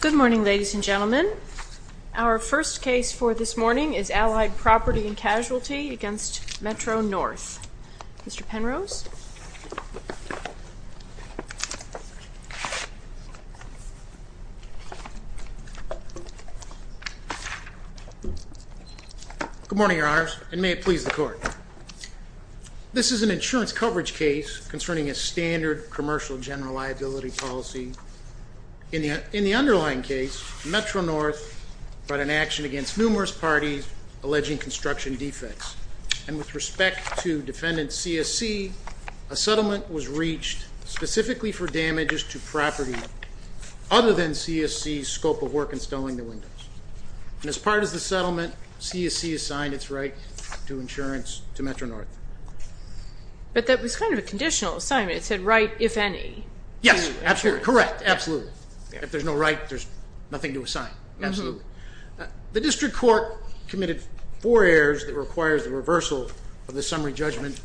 Good morning, ladies and gentlemen. Our first case for this morning is Allied Property & Casualty v. Metro North. Mr. Penrose. Good morning, Your Honors, and may it please the Court. This is an insurance coverage case concerning a standard commercial general liability policy. In the underlying case, Metro North brought an action against numerous parties alleging construction defects. And with respect to Defendant C.S.C., a settlement was reached specifically for damages to property other than C.S.C.'s scope of work installing the windows. And as part of the settlement, C.S.C. assigned its right to insurance to Metro North. But that was kind of a conditional assignment. It said, right if any. Yes, absolutely. Correct. Absolutely. If there's no right, there's nothing to assign. Absolutely. The District Court committed four errors that requires the reversal of the summary judgment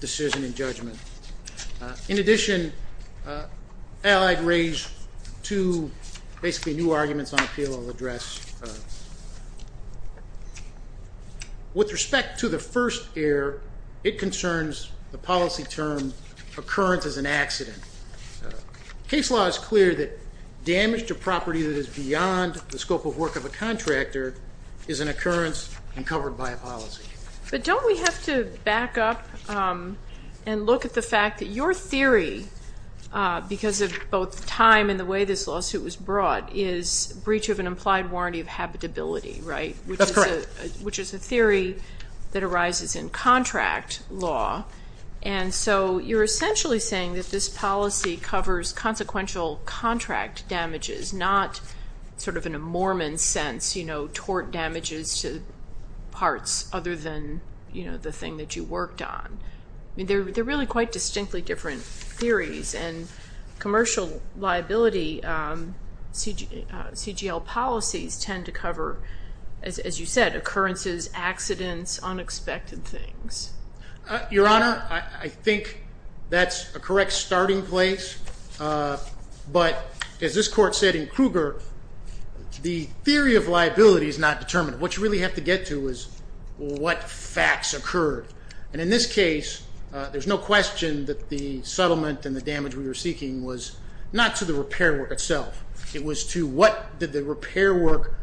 decision in judgment. In addition, Allied raised two basically new arguments on appeal I'll address. With respect to the first error, it concerns the policy term occurrence as an accident. Case law is clear that damage to property that is beyond the scope of work of a contractor is an occurrence and covered by a policy. But don't we have to back up and look at the fact that your theory, because of both time and the way this lawsuit was brought, is breach of an implied warranty of habitability, right? That's correct. Which is a theory that arises in contract law. And so you're essentially saying that this policy covers consequential contract damages, not sort of in a Mormon sense, you know, tort damages to parts other than, you know, the thing that you worked on. I mean, they're really quite distinctly different theories. And commercial liability CGL policies tend to cover, as you said, occurrences, accidents, unexpected things. Your Honor, I think that's a correct starting place. But as this court said in Kruger, the theory of liability is not determined. What you really have to get to is what facts occurred. And in this case, there's no question that the settlement and the damage we were seeking was not to the repair work itself. It was to what did the repair work,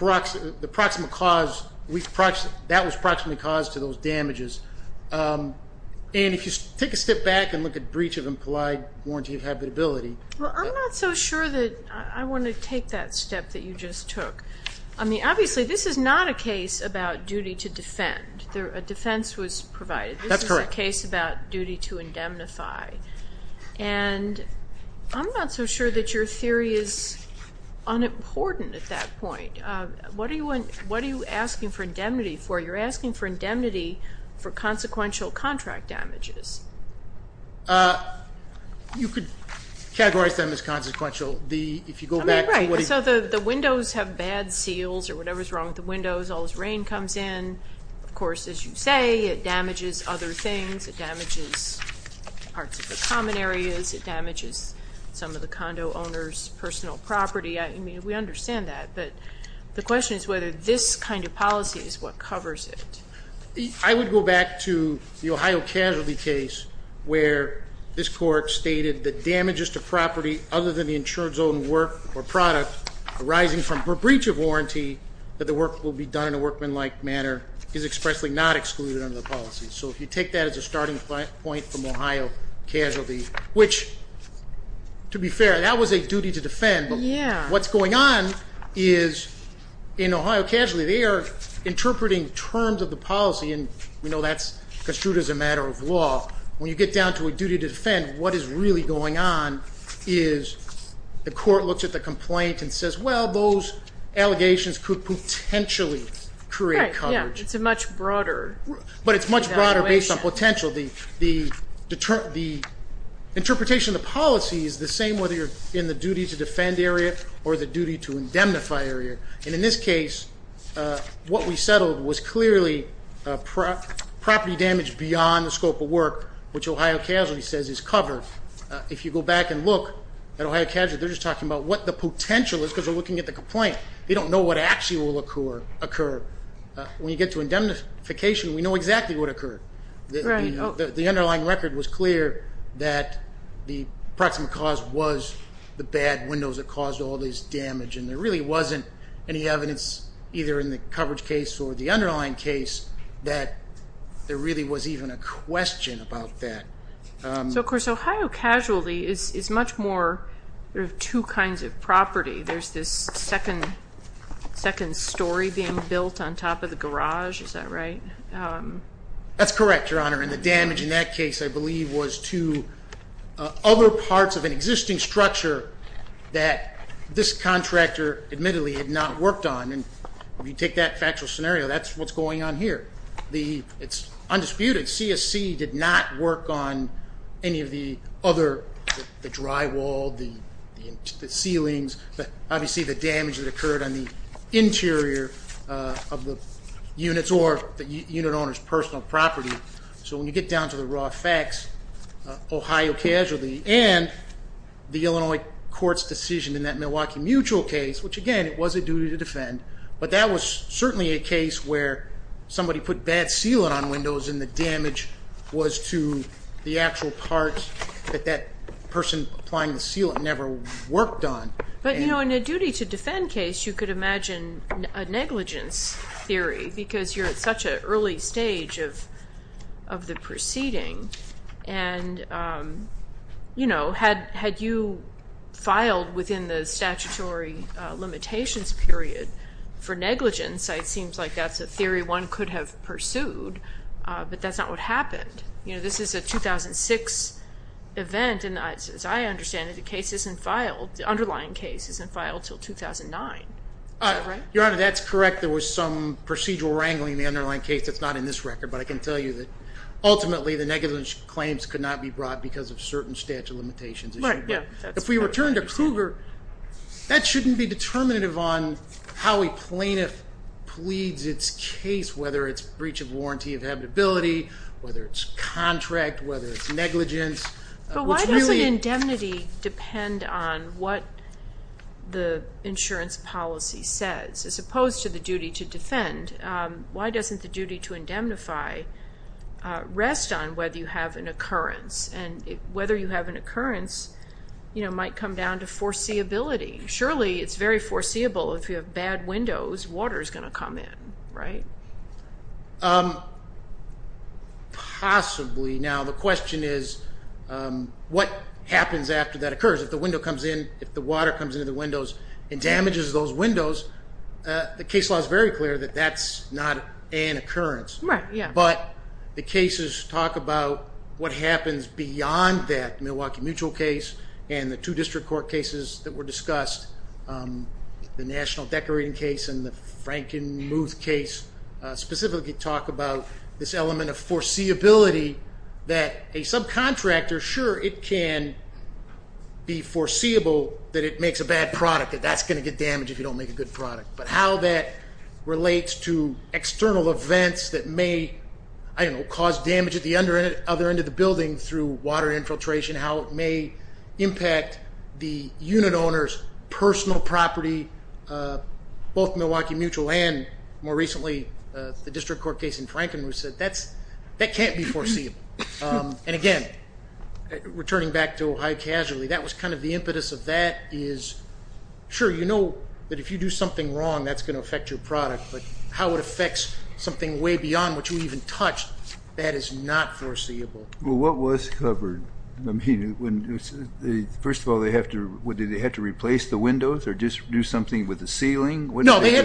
the proximate cause, that was proximately caused to those damages. And if you take a step back and look at breach of implied warranty of habitability. Well, I'm not so sure that I want to take that step that you just took. I mean, obviously, this is not a case about duty to defend. A defense was provided. That's correct. This is a case about duty to indemnify. And I'm not so sure that your theory is unimportant at that point. What are you asking for indemnity for? You're asking for indemnity for consequential contract damages. You could categorize them as consequential. I mean, right. So the windows have bad seals or whatever's wrong with the windows. All this rain comes in. Of course, as you say, it damages other things. It damages parts of the common areas. It damages some of the condo owners' personal property. I mean, we understand that. But the question is whether this kind of policy is what covers it. I would go back to the Ohio casualty case where this court stated that damages to property other than the insurance-owned work or product arising from a breach of warranty, that the work will be done in a workmanlike manner, is expressly not excluded under the policy. So if you take that as a starting point from Ohio casualty, which, to be fair, that was a duty to defend. But what's going on is in Ohio casualty, they are interpreting terms of the policy. And we know that's construed as a matter of law. When you get down to a duty to defend, what is really going on is the court looks at the complaint and says, well, those allegations could potentially create coverage. Yeah, it's a much broader evaluation. But it's much broader based on potential. The interpretation of the policy is the same whether you're in the duty to defend area or the duty to indemnify area. And in this case, what we settled was clearly property damage beyond the scope of work, which Ohio casualty says is covered. If you go back and look at Ohio casualty, they're just talking about what the potential is because they're looking at the complaint. They don't know what actually will occur. When you get to indemnification, we know exactly what occurred. The underlying record was clear that the proximate cause was the bad windows that caused all this damage. And there really wasn't any evidence, either in the coverage case or the underlying case, that there really was even a question about that. So, of course, Ohio casualty is much more two kinds of property. There's this second story being built on top of the garage. Is that right? That's correct, Your Honor. And the damage in that case, I believe, was to other parts of an existing structure that this contractor admittedly had not worked on. And if you take that factual scenario, that's what's going on here. It's undisputed CSC did not work on any of the other drywall, the ceilings, obviously the damage that occurred on the interior of the units or the unit owner's personal property. So when you get down to the raw facts, Ohio casualty and the Illinois court's decision in that Milwaukee Mutual case, which, again, it was a duty to defend, but that was certainly a case where somebody put bad sealant on windows and the damage was to the actual parts that that person applying the sealant never worked on. But, you know, in a duty to defend case, you could imagine a negligence theory because you're at such an early stage of the proceeding. And, you know, had you filed within the statutory limitations period for negligence, it seems like that's a theory one could have pursued, but that's not what happened. You know, this is a 2006 event, and as I understand it, the underlying case isn't filed until 2009. Is that right? Your Honor, that's correct. There was some procedural wrangling in the underlying case that's not in this record, but I can tell you that ultimately the negligence claims could not be brought because of certain statute limitations. Right, yeah. If we return to Cougar, that shouldn't be determinative on how a plaintiff pleads its case, whether it's breach of warranty of habitability, whether it's contract, whether it's negligence. But why doesn't indemnity depend on what the insurance policy says? As opposed to the duty to defend, why doesn't the duty to indemnify rest on whether you have an occurrence? And whether you have an occurrence, you know, might come down to foreseeability. Surely it's very foreseeable if you have bad windows, water is going to come in, right? Possibly. Now, the question is what happens after that occurs. If the window comes in, if the water comes into the windows and damages those windows, the case law is very clear that that's not an occurrence. Right, yeah. But the cases talk about what happens beyond that, the Milwaukee Mutual case and the two district court cases that were discussed, the National Decorating case and the Frankenmuth case specifically talk about this element of foreseeability that a subcontractor, I'm sure it can be foreseeable that it makes a bad product, that that's going to get damaged if you don't make a good product. But how that relates to external events that may, I don't know, cause damage at the other end of the building through water infiltration, how it may impact the unit owner's personal property, both Milwaukee Mutual and more recently the district court case in Frankenmuth said that can't be foreseeable. And again, returning back to Ohio Casualty, that was kind of the impetus of that is, sure, you know that if you do something wrong that's going to affect your product, but how it affects something way beyond what you even touched, that is not foreseeable. Well, what was covered? I mean, first of all, they had to replace the windows or just do something with the ceiling? No, they had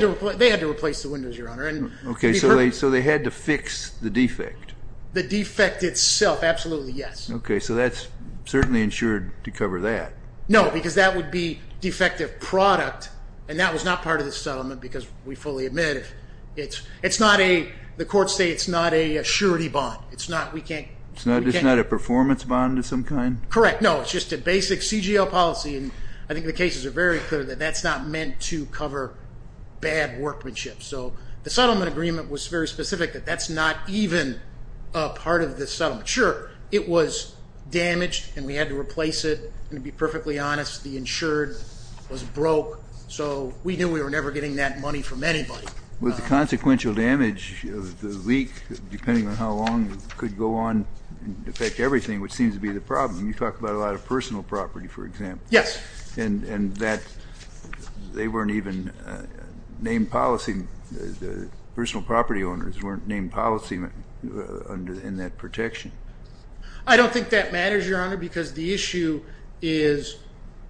to replace the windows, Your Honor. Okay, so they had to fix the defect. The defect itself, absolutely yes. Okay, so that's certainly insured to cover that. No, because that would be defective product, and that was not part of the settlement because we fully admit it's not a, the courts say it's not a surety bond. It's not, we can't. It's not a performance bond of some kind? Correct, no, it's just a basic CGL policy, and I think the cases are very clear that that's not meant to cover bad workmanship. So the settlement agreement was very specific that that's not even a part of the settlement. Sure, it was damaged and we had to replace it, and to be perfectly honest, the insured was broke, so we knew we were never getting that money from anybody. Was the consequential damage, the leak, depending on how long it could go on and affect everything, which seems to be the problem. You talk about a lot of personal property, for example. Yes. And that they weren't even named policy, the personal property owners weren't named policy in that protection. I don't think that matters, Your Honor, because the issue is,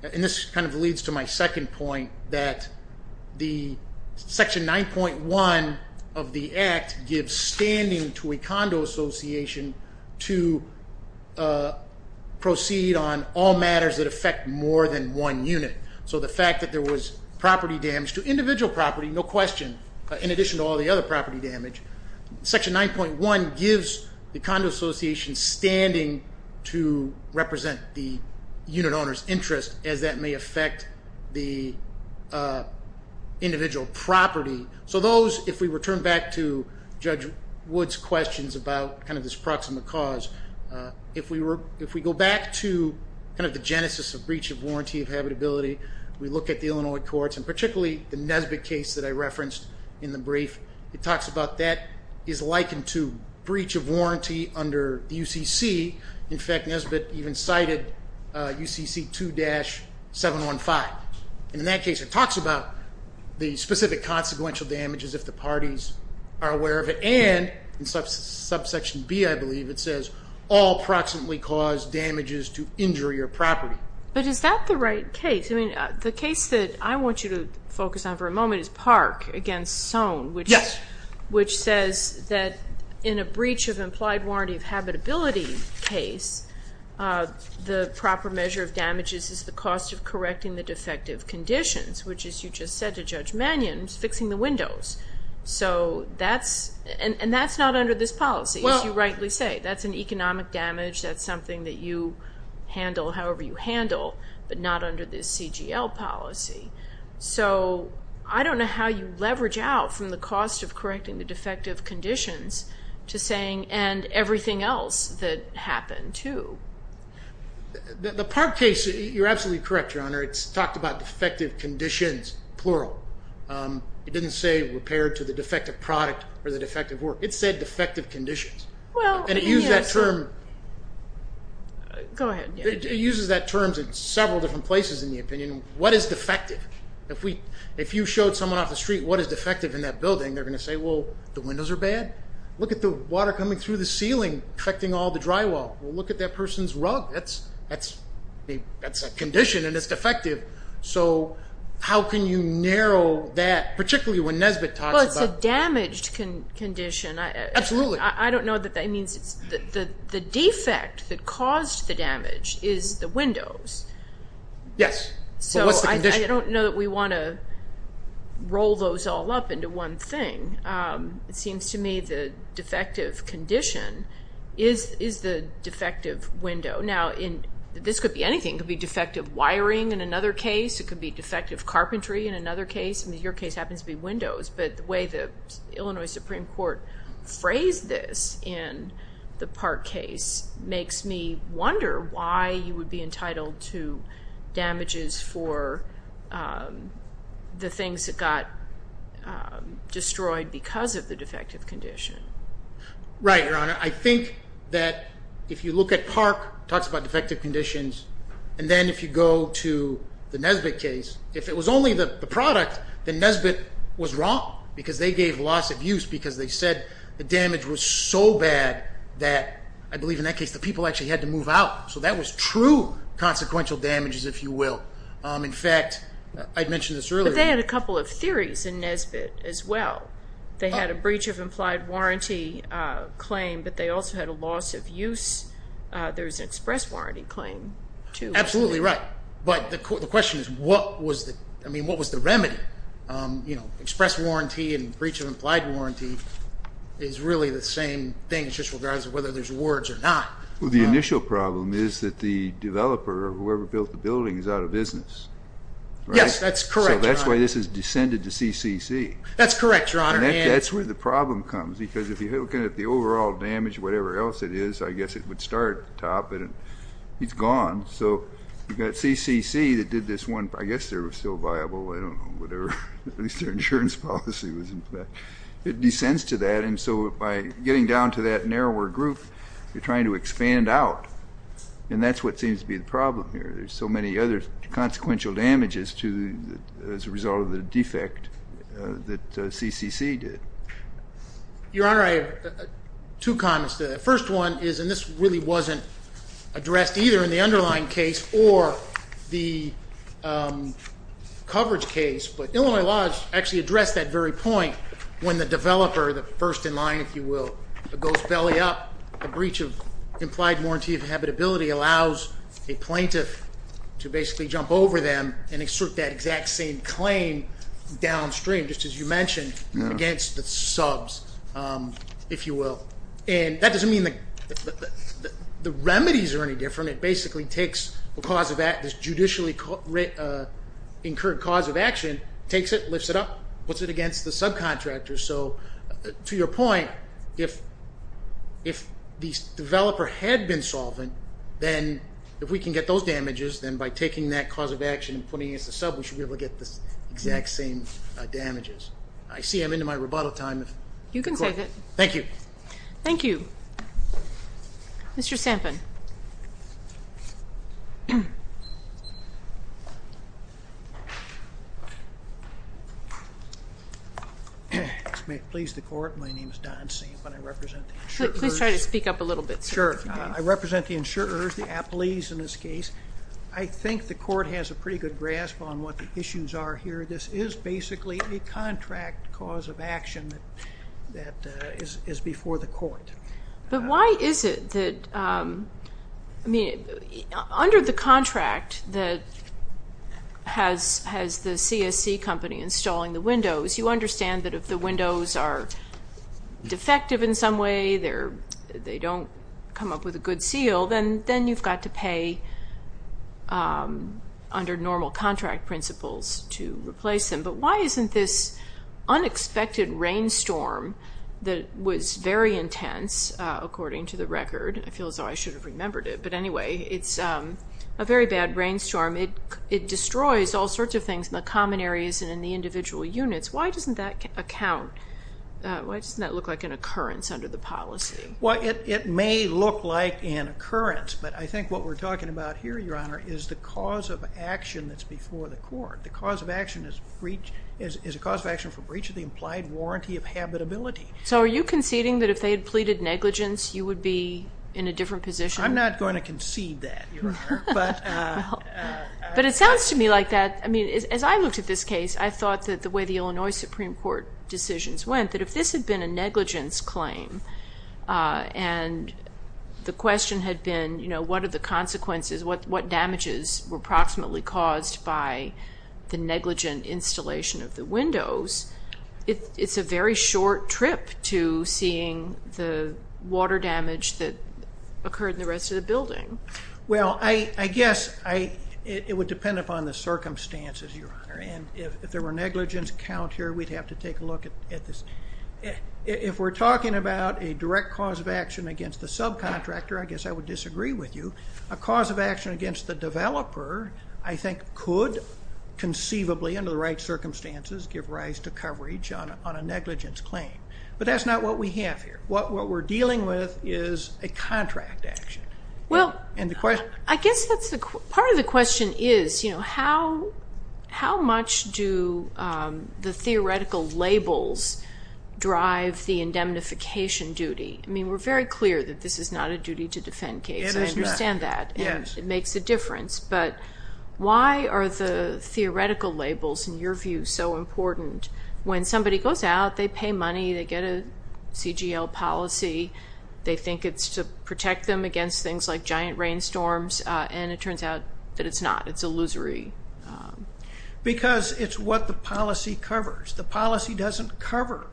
and this kind of leads to my second point, that the Section 9.1 of the Act gives standing to a condo association to proceed on all matters that affect more than one unit. So the fact that there was property damage to individual property, no question, in addition to all the other property damage, Section 9.1 gives the condo association standing to represent the unit owner's interest as that may affect the individual property. So those, if we return back to Judge Wood's questions about this proximate cause, if we go back to the genesis of breach of warranty of habitability, we look at the Illinois courts, and particularly the Nesbitt case that I referenced in the brief, it talks about that is likened to breach of warranty under the UCC. In fact, Nesbitt even cited UCC 2-715. And in that case, it talks about the specific consequential damages if the parties are aware of it, and in Subsection B, I believe, it says, all proximately caused damages to injury or property. But is that the right case? I mean, the case that I want you to focus on for a moment is Park v. Soane, which says that in a breach of implied warranty of habitability case, the proper measure of damages is the cost of correcting the defective conditions, which, as you just said to Judge Mannion, is fixing the windows. And that's not under this policy, as you rightly say. That's an economic damage. That's something that you handle however you handle, but not under this CGL policy. So I don't know how you leverage out from the cost of correcting the defective conditions to saying, and everything else that happened, too. The Park case, you're absolutely correct, Your Honor. It's talked about defective conditions, plural. It didn't say repair to the defective product or the defective work. It said defective conditions. Well, yes. And it used that term. Go ahead. It uses that term in several different places in the opinion. What is defective? If you showed someone off the street what is defective in that building, they're going to say, well, the windows are bad. Look at the water coming through the ceiling affecting all the drywall. Well, look at that person's rug. That's a condition, and it's defective. So how can you narrow that, particularly when Nesbitt talks about it? Well, it's a damaged condition. Absolutely. I don't know that that means it's the defect that caused the damage is the windows. Yes. But what's the condition? I don't know that we want to roll those all up into one thing. It seems to me the defective condition is the defective window. Now, this could be anything. It could be defective wiring in another case. It could be defective carpentry in another case. I mean, your case happens to be windows. But the way the Illinois Supreme Court phrased this in the Park case makes me the things that got destroyed because of the defective condition. Right, Your Honor. I think that if you look at Park, talks about defective conditions, and then if you go to the Nesbitt case, if it was only the product, then Nesbitt was wrong because they gave loss of use because they said the damage was so bad that, I believe in that case, the people actually had to move out. So that was true consequential damages, if you will. In fact, I mentioned this earlier. But they had a couple of theories in Nesbitt as well. They had a breach of implied warranty claim, but they also had a loss of use. There was an express warranty claim, too. Absolutely right. But the question is what was the remedy? Express warranty and breach of implied warranty is really the same thing, just regardless of whether there's words or not. Well, the initial problem is that the developer, whoever built the building, is out of business. Yes, that's correct, Your Honor. So that's why this has descended to CCC. That's correct, Your Honor. And that's where the problem comes because if you're looking at the overall damage, whatever else it is, I guess it would start at the top, but it's gone. So you've got CCC that did this one. I guess they were still viable. I don't know. At least their insurance policy was in place. It descends to that. And so by getting down to that narrower group, you're trying to expand out. And that's what seems to be the problem here. There's so many other consequential damages as a result of the defect that CCC did. Your Honor, I have two comments to that. The first one is, and this really wasn't addressed either in the underlying case or the coverage case, but Illinois Lodge actually addressed that very point when the developer, the first in line, if you will, goes belly up. The breach of implied warranty of habitability allows a plaintiff to basically jump over them and exert that exact same claim downstream, just as you mentioned, against the subs, if you will. And that doesn't mean the remedies are any different. It basically takes this judicially incurred cause of action, takes it, lifts it up, puts it against the subcontractor. So to your point, if the developer had been solvent, then if we can get those damages, then by taking that cause of action and putting it against the sub, we should be able to get the exact same damages. I see I'm into my rebuttal time. You can take it. Thank you. Thank you. Mr. Sampin. May it please the court. My name is Don Sampin. I represent the insurers. Please try to speak up a little bit. Sure. I represent the insurers, the appellees in this case. I think the court has a pretty good grasp on what the issues are here. This is basically a contract cause of action that is before the court. But why is it that, I mean, under the contract that has the CSC company installing the windows, you understand that if the windows are defective in some way, they don't come up with a good seal, then you've got to pay under normal contract principles to replace them. But why isn't this unexpected rainstorm that was very intense, according to the record, I feel as though I should have remembered it, but anyway, it's a very bad rainstorm. It destroys all sorts of things in the common areas and in the individual units. Why doesn't that account, why doesn't that look like an occurrence under the policy? Well, it may look like an occurrence, but I think what we're talking about here, Your Honor, is the cause of action that's before the court. The cause of action is a cause of action for breach of the implied warranty of habitability. So are you conceding that if they had pleaded negligence, I'm not going to concede that, Your Honor. But it sounds to me like that, as I looked at this case, I thought that the way the Illinois Supreme Court decisions went, that if this had been a negligence claim, and the question had been what are the consequences, what damages were approximately caused by the negligent installation of the windows, it's a very short trip to seeing the water damage that occurred in the rest of the building. Well, I guess it would depend upon the circumstances, Your Honor. And if there were negligence count here, we'd have to take a look at this. If we're talking about a direct cause of action against the subcontractor, I guess I would disagree with you. A cause of action against the developer, I think, could conceivably, under the right circumstances, give rise to coverage on a negligence claim. But that's not what we have here. What we're dealing with is a contract action. Well, I guess part of the question is, how much do the theoretical labels drive the indemnification duty? I mean, we're very clear that this is not a duty to defend case. I understand that. It makes a difference. But why are the theoretical labels, in your view, so important? When somebody goes out, they pay money, they get a CGL policy, they think it's to protect them against things like giant rainstorms, and it turns out that it's not. It's illusory. Because it's what the policy covers. The policy doesn't cover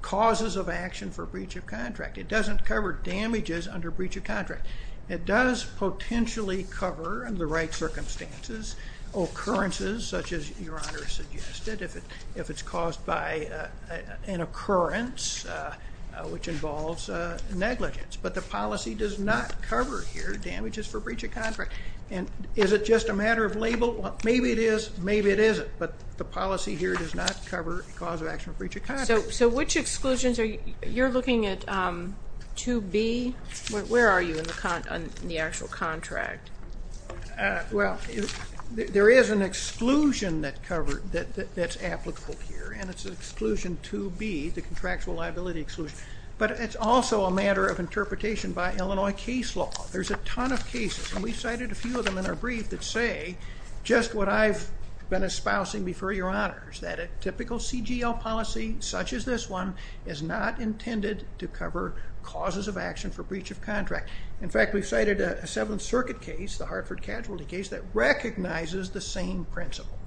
causes of action for breach of contract. It doesn't cover damages under breach of contract. It does potentially cover, under the right circumstances, occurrences such as Your Honor suggested, if it's caused by an occurrence which involves negligence. But the policy does not cover here damages for breach of contract. And is it just a matter of label? Maybe it is, maybe it isn't. But the policy here does not cover cause of action for breach of contract. So which exclusions are you looking at 2B? Where are you on the actual contract? Well, there is an exclusion that's applicable here, and it's exclusion 2B, the contractual liability exclusion. But it's also a matter of interpretation by Illinois case law. There's a ton of cases, and we've cited a few of them in our brief, that say just what I've been espousing before, Your Honors, that a typical CGL policy, such as this one, is not intended to cover causes of action for breach of contract. In fact, we've cited a Seventh Circuit case, the Hartford Casualty case, that recognizes the same principle.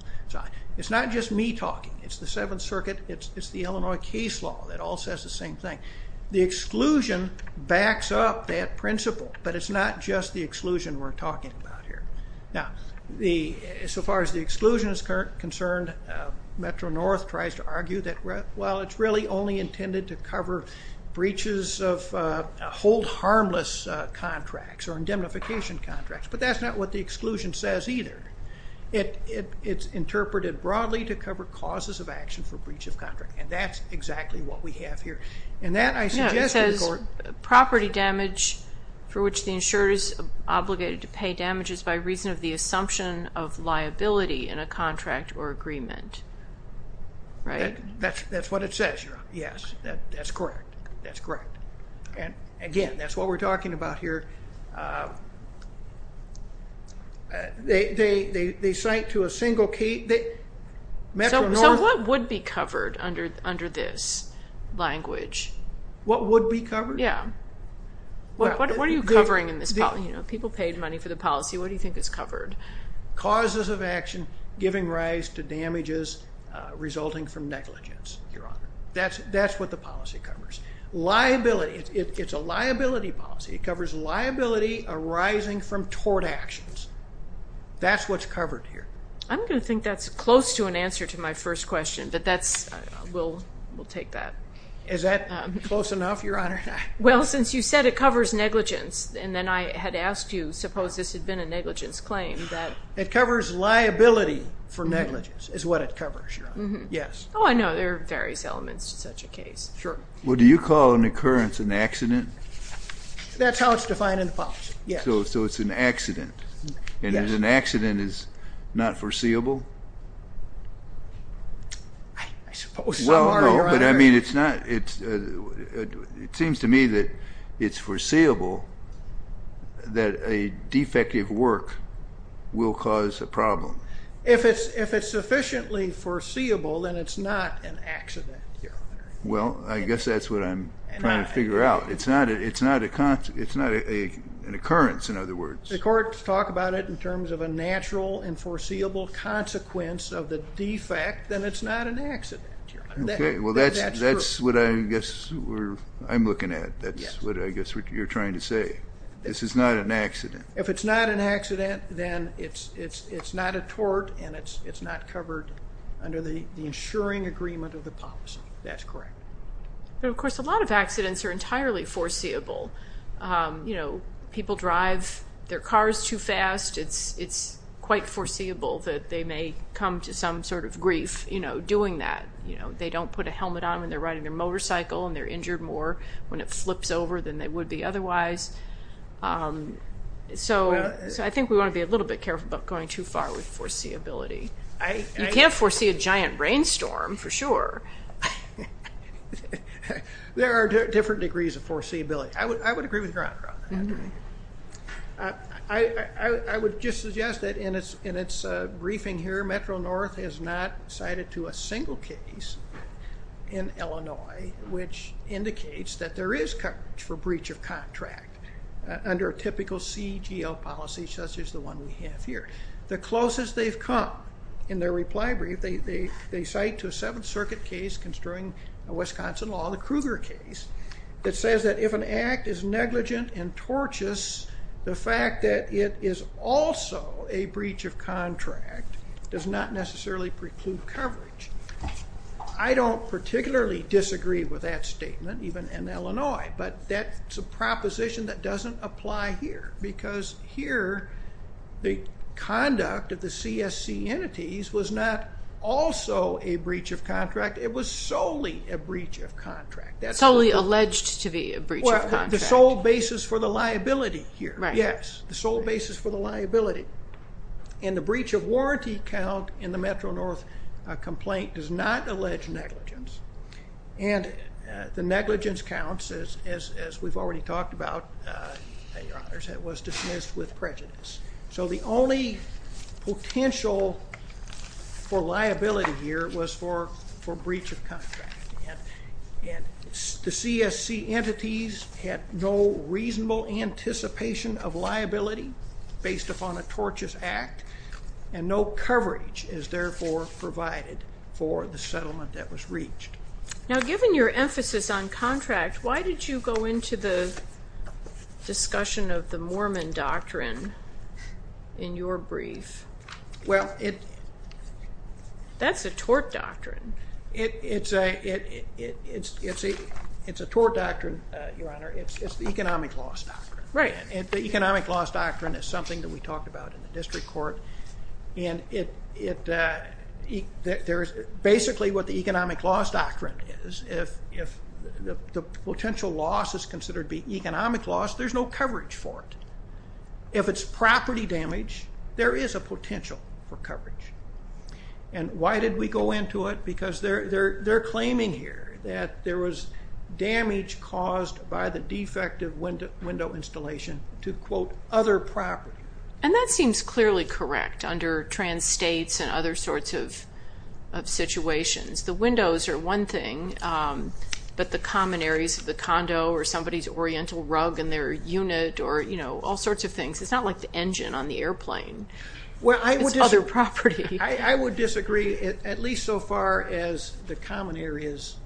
It's not just me talking. It's the Seventh Circuit. It's the Illinois case law that all says the same thing. The exclusion backs up that principle, but it's not just the exclusion we're talking about here. Now, so far as the exclusion is concerned, Metro-North tries to argue that, well, it's really only intended to cover breaches of hold-harmless contracts or indemnification contracts. But that's not what the exclusion says either. It's interpreted broadly to cover causes of action for breach of contract, and that's exactly what we have here. And that, I suggest to the Court. No, it says property damage for which the insurer is obligated to pay damage is by reason of the assumption of liability in a contract or agreement, right? That's what it says. Yes, that's correct. That's correct. And, again, that's what we're talking about here. They cite to a single case. So what would be covered under this language? What would be covered? Yeah. What are you covering in this policy? You know, people paid money for the policy. What do you think is covered? Causes of action giving rise to damages resulting from negligence, Your Honor. That's what the policy covers. Liability. It's a liability policy. It covers liability arising from tort actions. That's what's covered here. I'm going to think that's close to an answer to my first question, but we'll take that. Is that close enough, Your Honor? Well, since you said it covers negligence, and then I had asked you, suppose this had been a negligence claim. It covers liability for negligence is what it covers, Your Honor. Yes. Oh, I know. There are various elements to such a case. Sure. Well, do you call an occurrence an accident? That's how it's defined in the policy, yes. So it's an accident. Yes. And an accident is not foreseeable? I suppose so. It seems to me that it's foreseeable that a defective work will cause a problem. If it's sufficiently foreseeable, then it's not an accident, Your Honor. Well, I guess that's what I'm trying to figure out. It's not an occurrence, in other words. The courts talk about it in terms of a natural and foreseeable consequence of the defect, then it's not an accident, Your Honor. Okay. Well, that's what I guess I'm looking at. That's what I guess you're trying to say. This is not an accident. If it's not an accident, then it's not a tort, and it's not covered under the insuring agreement of the policy. That's correct. But, of course, a lot of accidents are entirely foreseeable. You know, people drive their cars too fast. It's quite foreseeable that they may come to some sort of grief doing that. You know, they don't put a helmet on when they're riding their motorcycle and they're injured more when it flips over than they would be otherwise. So I think we want to be a little bit careful about going too far with foreseeability. You can't foresee a giant rainstorm, for sure. There are different degrees of foreseeability. I would agree with Your Honor on that. I would just suggest that in its briefing here, Metro-North has not cited to a single case in Illinois which indicates that there is coverage for breach of contract under a typical CGL policy such as the one we have here. The closest they've come in their reply brief, they cite to a Seventh Circuit case construing a Wisconsin law, the Kruger case, that says that if an act is negligent and tortious, the fact that it is also a breach of contract does not necessarily preclude coverage. I don't particularly disagree with that statement, even in Illinois, but that's a proposition that doesn't apply here because here the conduct of the CSC entities was not also a breach of contract. It was solely a breach of contract. Solely alleged to be a breach of contract. The sole basis for the liability here. Right. Yes, the sole basis for the liability. And the breach of warranty count in the Metro-North complaint does not allege negligence. And the negligence count, as we've already talked about, was dismissed with prejudice. So the only potential for liability here was for breach of contract. The CSC entities had no reasonable anticipation of liability based upon a tortious act, and no coverage is therefore provided for the settlement that was reached. Now, given your emphasis on contract, why did you go into the discussion of the Mormon doctrine in your brief? Well, it... That's a tort doctrine. It's a tort doctrine, Your Honor. It's the economic loss doctrine. Right. And the economic loss doctrine is something that we talked about in the district court, and basically what the economic loss doctrine is, if the potential loss is considered to be economic loss, there's no coverage for it. If it's property damage, there is a potential for coverage. And why did we go into it? Because they're claiming here that there was damage caused by the defective window installation to, quote, other property. And that seems clearly correct under trans-states and other sorts of situations. The windows are one thing, but the common areas of the condo or somebody's oriental rug in their unit or, you know, all sorts of things. It's not like the engine on the airplane. Well, I would disagree. It's other property. I would disagree at least so far as the common areas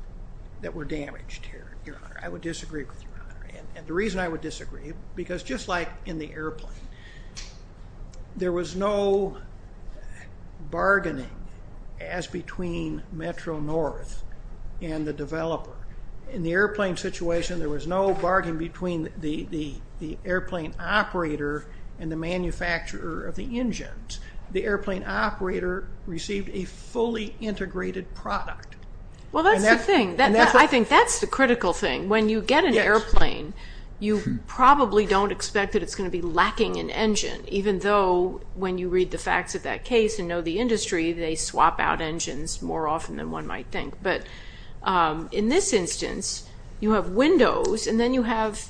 that were damaged here, Your Honor. I would disagree with Your Honor. And the reason I would disagree, because just like in the airplane, there was no bargaining as between Metro-North and the developer. In the airplane situation, there was no bargain between the airplane operator and the manufacturer of the engines. The airplane operator received a fully integrated product. Well, that's the thing. I think that's the critical thing. When you get an airplane, you probably don't expect that it's going to be lacking an engine, even though when you read the facts of that case and know the industry, they swap out engines more often than one might think. But in this instance, you have windows, and then you have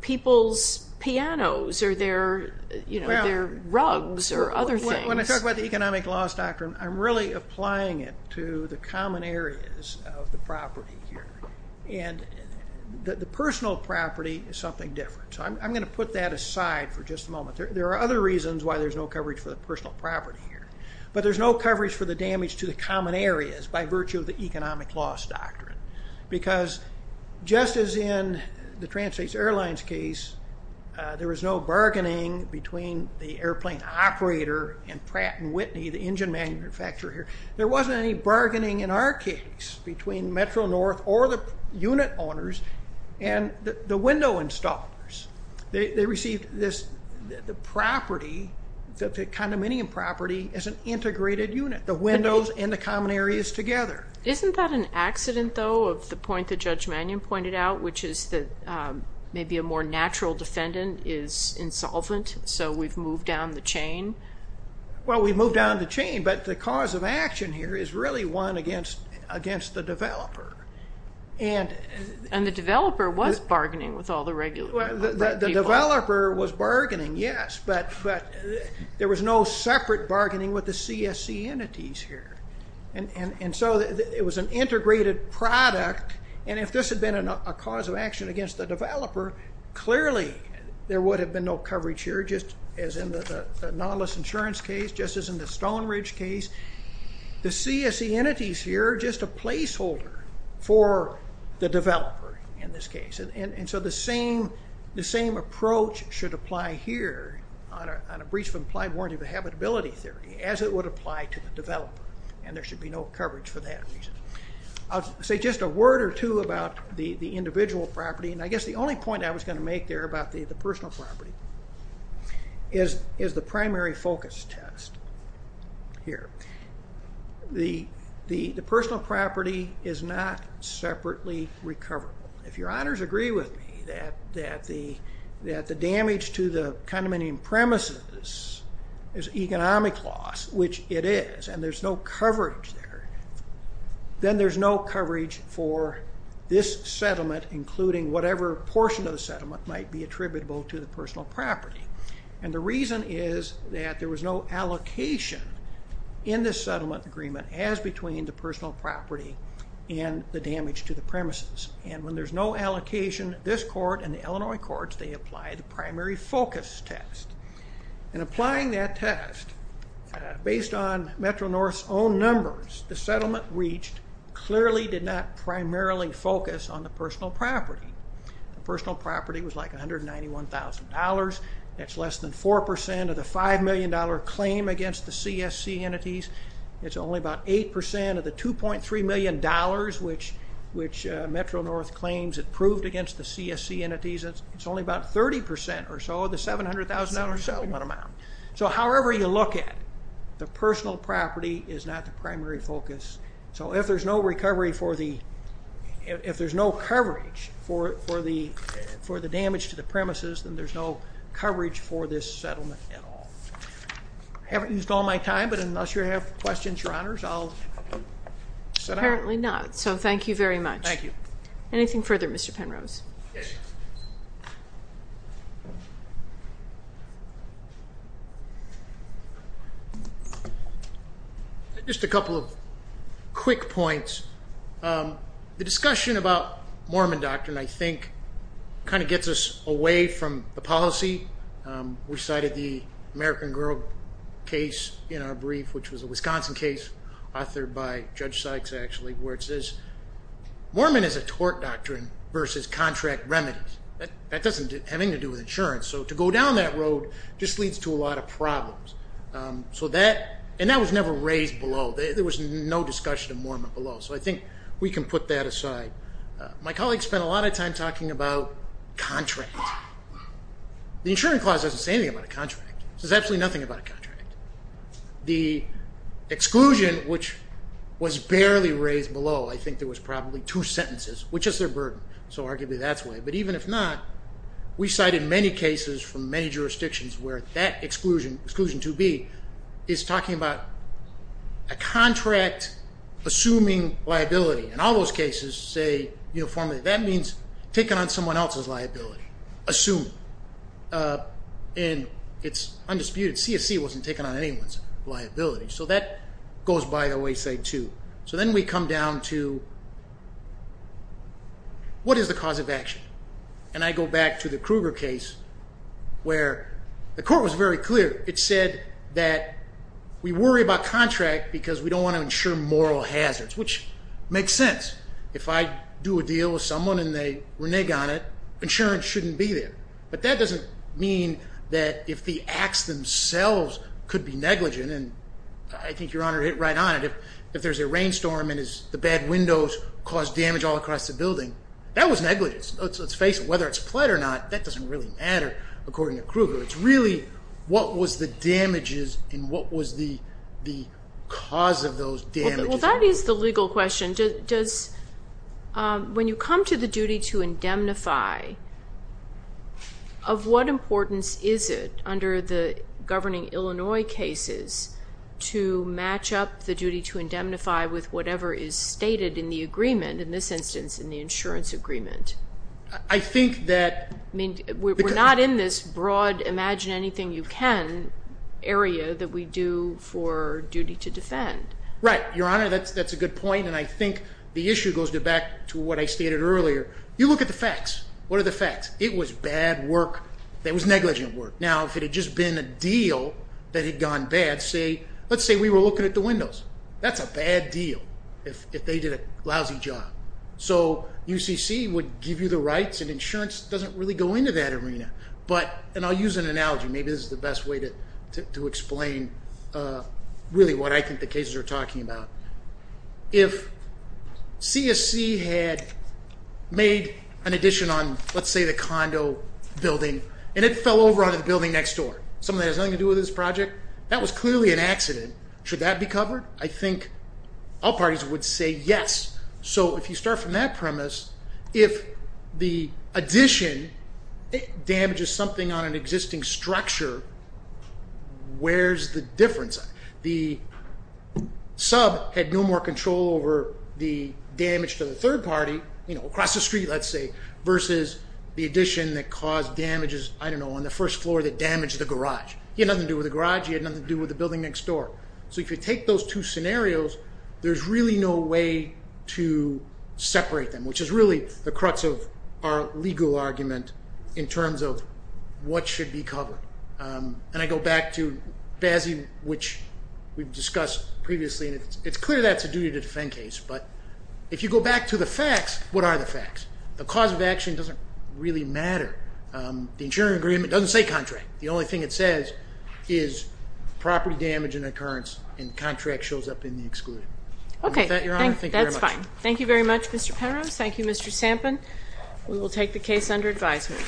people's pianos or their rugs or other things. When I talk about the economic loss doctrine, I'm really applying it to the common areas of the property here. And the personal property is something different. So I'm going to put that aside for just a moment. There are other reasons why there's no coverage for the personal property here. But there's no coverage for the damage to the common areas by virtue of the economic loss doctrine. Because just as in the Trans States Airlines case, there was no bargaining between the airplane operator and Pratt & Whitney, the engine manufacturer here. There wasn't any bargaining in our case between Metro-North or the unit owners and the window installers. They received the property, the condominium property, as an integrated unit, the windows and the common areas together. Isn't that an accident, though, of the point that Judge Mannion pointed out, which is that maybe a more natural defendant is insolvent, so we've moved down the chain? Well, we've moved down the chain, but the cause of action here is really one against the developer. And the developer was bargaining with all the regular people. The developer was bargaining, yes, but there was no separate bargaining with the CSC entities here. And so it was an integrated product, and if this had been a cause of action against the developer, clearly there would have been no coverage here, just as in the Nautilus Insurance case, just as in the Stone Ridge case. The CSC entities here are just a placeholder for the developer in this case. And so the same approach should apply here on a breach of implied warranty of habitability theory as it would apply to the developer, and there should be no coverage for that reason. I'll say just a word or two about the individual property, and I guess the only point I was going to make there about the personal property is the primary focus test here. The personal property is not separately recoverable. If Your Honors agree with me that the damage to the condominium premises is economic loss, which it is, and there's no coverage there, then there's no coverage for this settlement, including whatever portion of the settlement might be attributable to the personal property. And the reason is that there was no allocation in this settlement agreement as between the personal property and the damage to the premises. And when there's no allocation, this court and the Illinois courts, they apply the primary focus test. And applying that test, based on Metro-North's own numbers, the settlement reached clearly did not primarily focus on the personal property. The personal property was like $191,000. That's less than 4% of the $5 million claim against the CSC entities. It's only about 8% of the $2.3 million, which Metro-North claims it proved against the CSC entities. It's only about 30% or so of the $700,000 settlement amount. So however you look at it, the personal property is not the primary focus. So if there's no recovery for the – if there's no coverage for the damage to the premises, then there's no coverage for this settlement at all. I haven't used all my time, but unless you have questions, Your Honors, I'll sit down. Apparently not, so thank you very much. Thank you. Anything further, Mr. Penrose? Just a couple of quick points. The discussion about Mormon doctrine, I think, kind of gets us away from the policy. We cited the American Girl case in our brief, which was a Wisconsin case authored by Judge Sykes, actually, where it says, Mormon is a tort doctrine versus contract remedies. That doesn't have anything to do with insurance, so to go down that road just leads to a lot of problems. And that was never raised below. There was no discussion of Mormon below, so I think we can put that aside. My colleagues spent a lot of time talking about contracts. The insurance clause doesn't say anything about a contract. It says absolutely nothing about a contract. The exclusion, which was barely raised below, I think there was probably two sentences, which is their burden, so arguably that's why. But even if not, we cited many cases from many jurisdictions where that exclusion, exclusion 2B, is talking about a contract assuming liability. In all those cases, say, that means taking on someone else's liability, assuming. And it's undisputed. CSC wasn't taking on anyone's liability. So that goes by the wayside, too. So then we come down to what is the cause of action? And I go back to the Kruger case where the court was very clear. It said that we worry about contract because we don't want to insure moral hazards, which makes sense. If I do a deal with someone and they renege on it, insurance shouldn't be there. But that doesn't mean that if the acts themselves could be negligent, then I think Your Honor hit right on it. If there's a rainstorm and the bad windows cause damage all across the building, that was negligence. Let's face it, whether it's pled or not, that doesn't really matter, according to Kruger. It's really what was the damages and what was the cause of those damages. Well, that is the legal question. When you come to the duty to indemnify, of what importance is it under the governing Illinois cases to match up the duty to indemnify with whatever is stated in the agreement, in this instance in the insurance agreement? I think that we're not in this broad imagine anything you can area that we do for duty to defend. Right, Your Honor. That's a good point, and I think the issue goes back to what I stated earlier. You look at the facts. What are the facts? It was bad work that was negligent work. Now, if it had just been a deal that had gone bad, let's say we were looking at the windows. That's a bad deal if they did a lousy job. So UCC would give you the rights, and insurance doesn't really go into that arena. And I'll use an analogy. Maybe this is the best way to explain really what I think the cases are talking about. If CSC had made an addition on, let's say, the condo building, and it fell over onto the building next door, something that has nothing to do with this project, that was clearly an accident. Should that be covered? I think all parties would say yes. So if you start from that premise, if the addition damages something on an existing structure, where's the difference? The sub had no more control over the damage to the third party, you know, across the street, let's say, versus the addition that caused damages, I don't know, on the first floor that damaged the garage. It had nothing to do with the garage. It had nothing to do with the building next door. So if you take those two scenarios, there's really no way to separate them, which is really the crux of our legal argument in terms of what should be covered. And I go back to BASI, which we've discussed previously, and it's clear that's a duty to defend case. But if you go back to the facts, what are the facts? The cause of action doesn't really matter. The insurance agreement doesn't say contract. The only thing it says is property damage and occurrence, and the contract shows up in the excluded. Okay. With that, Your Honor, thank you very much. That's fine. Thank you very much, Mr. Penrose. Thank you, Mr. Sampen. We will take the case under advisement.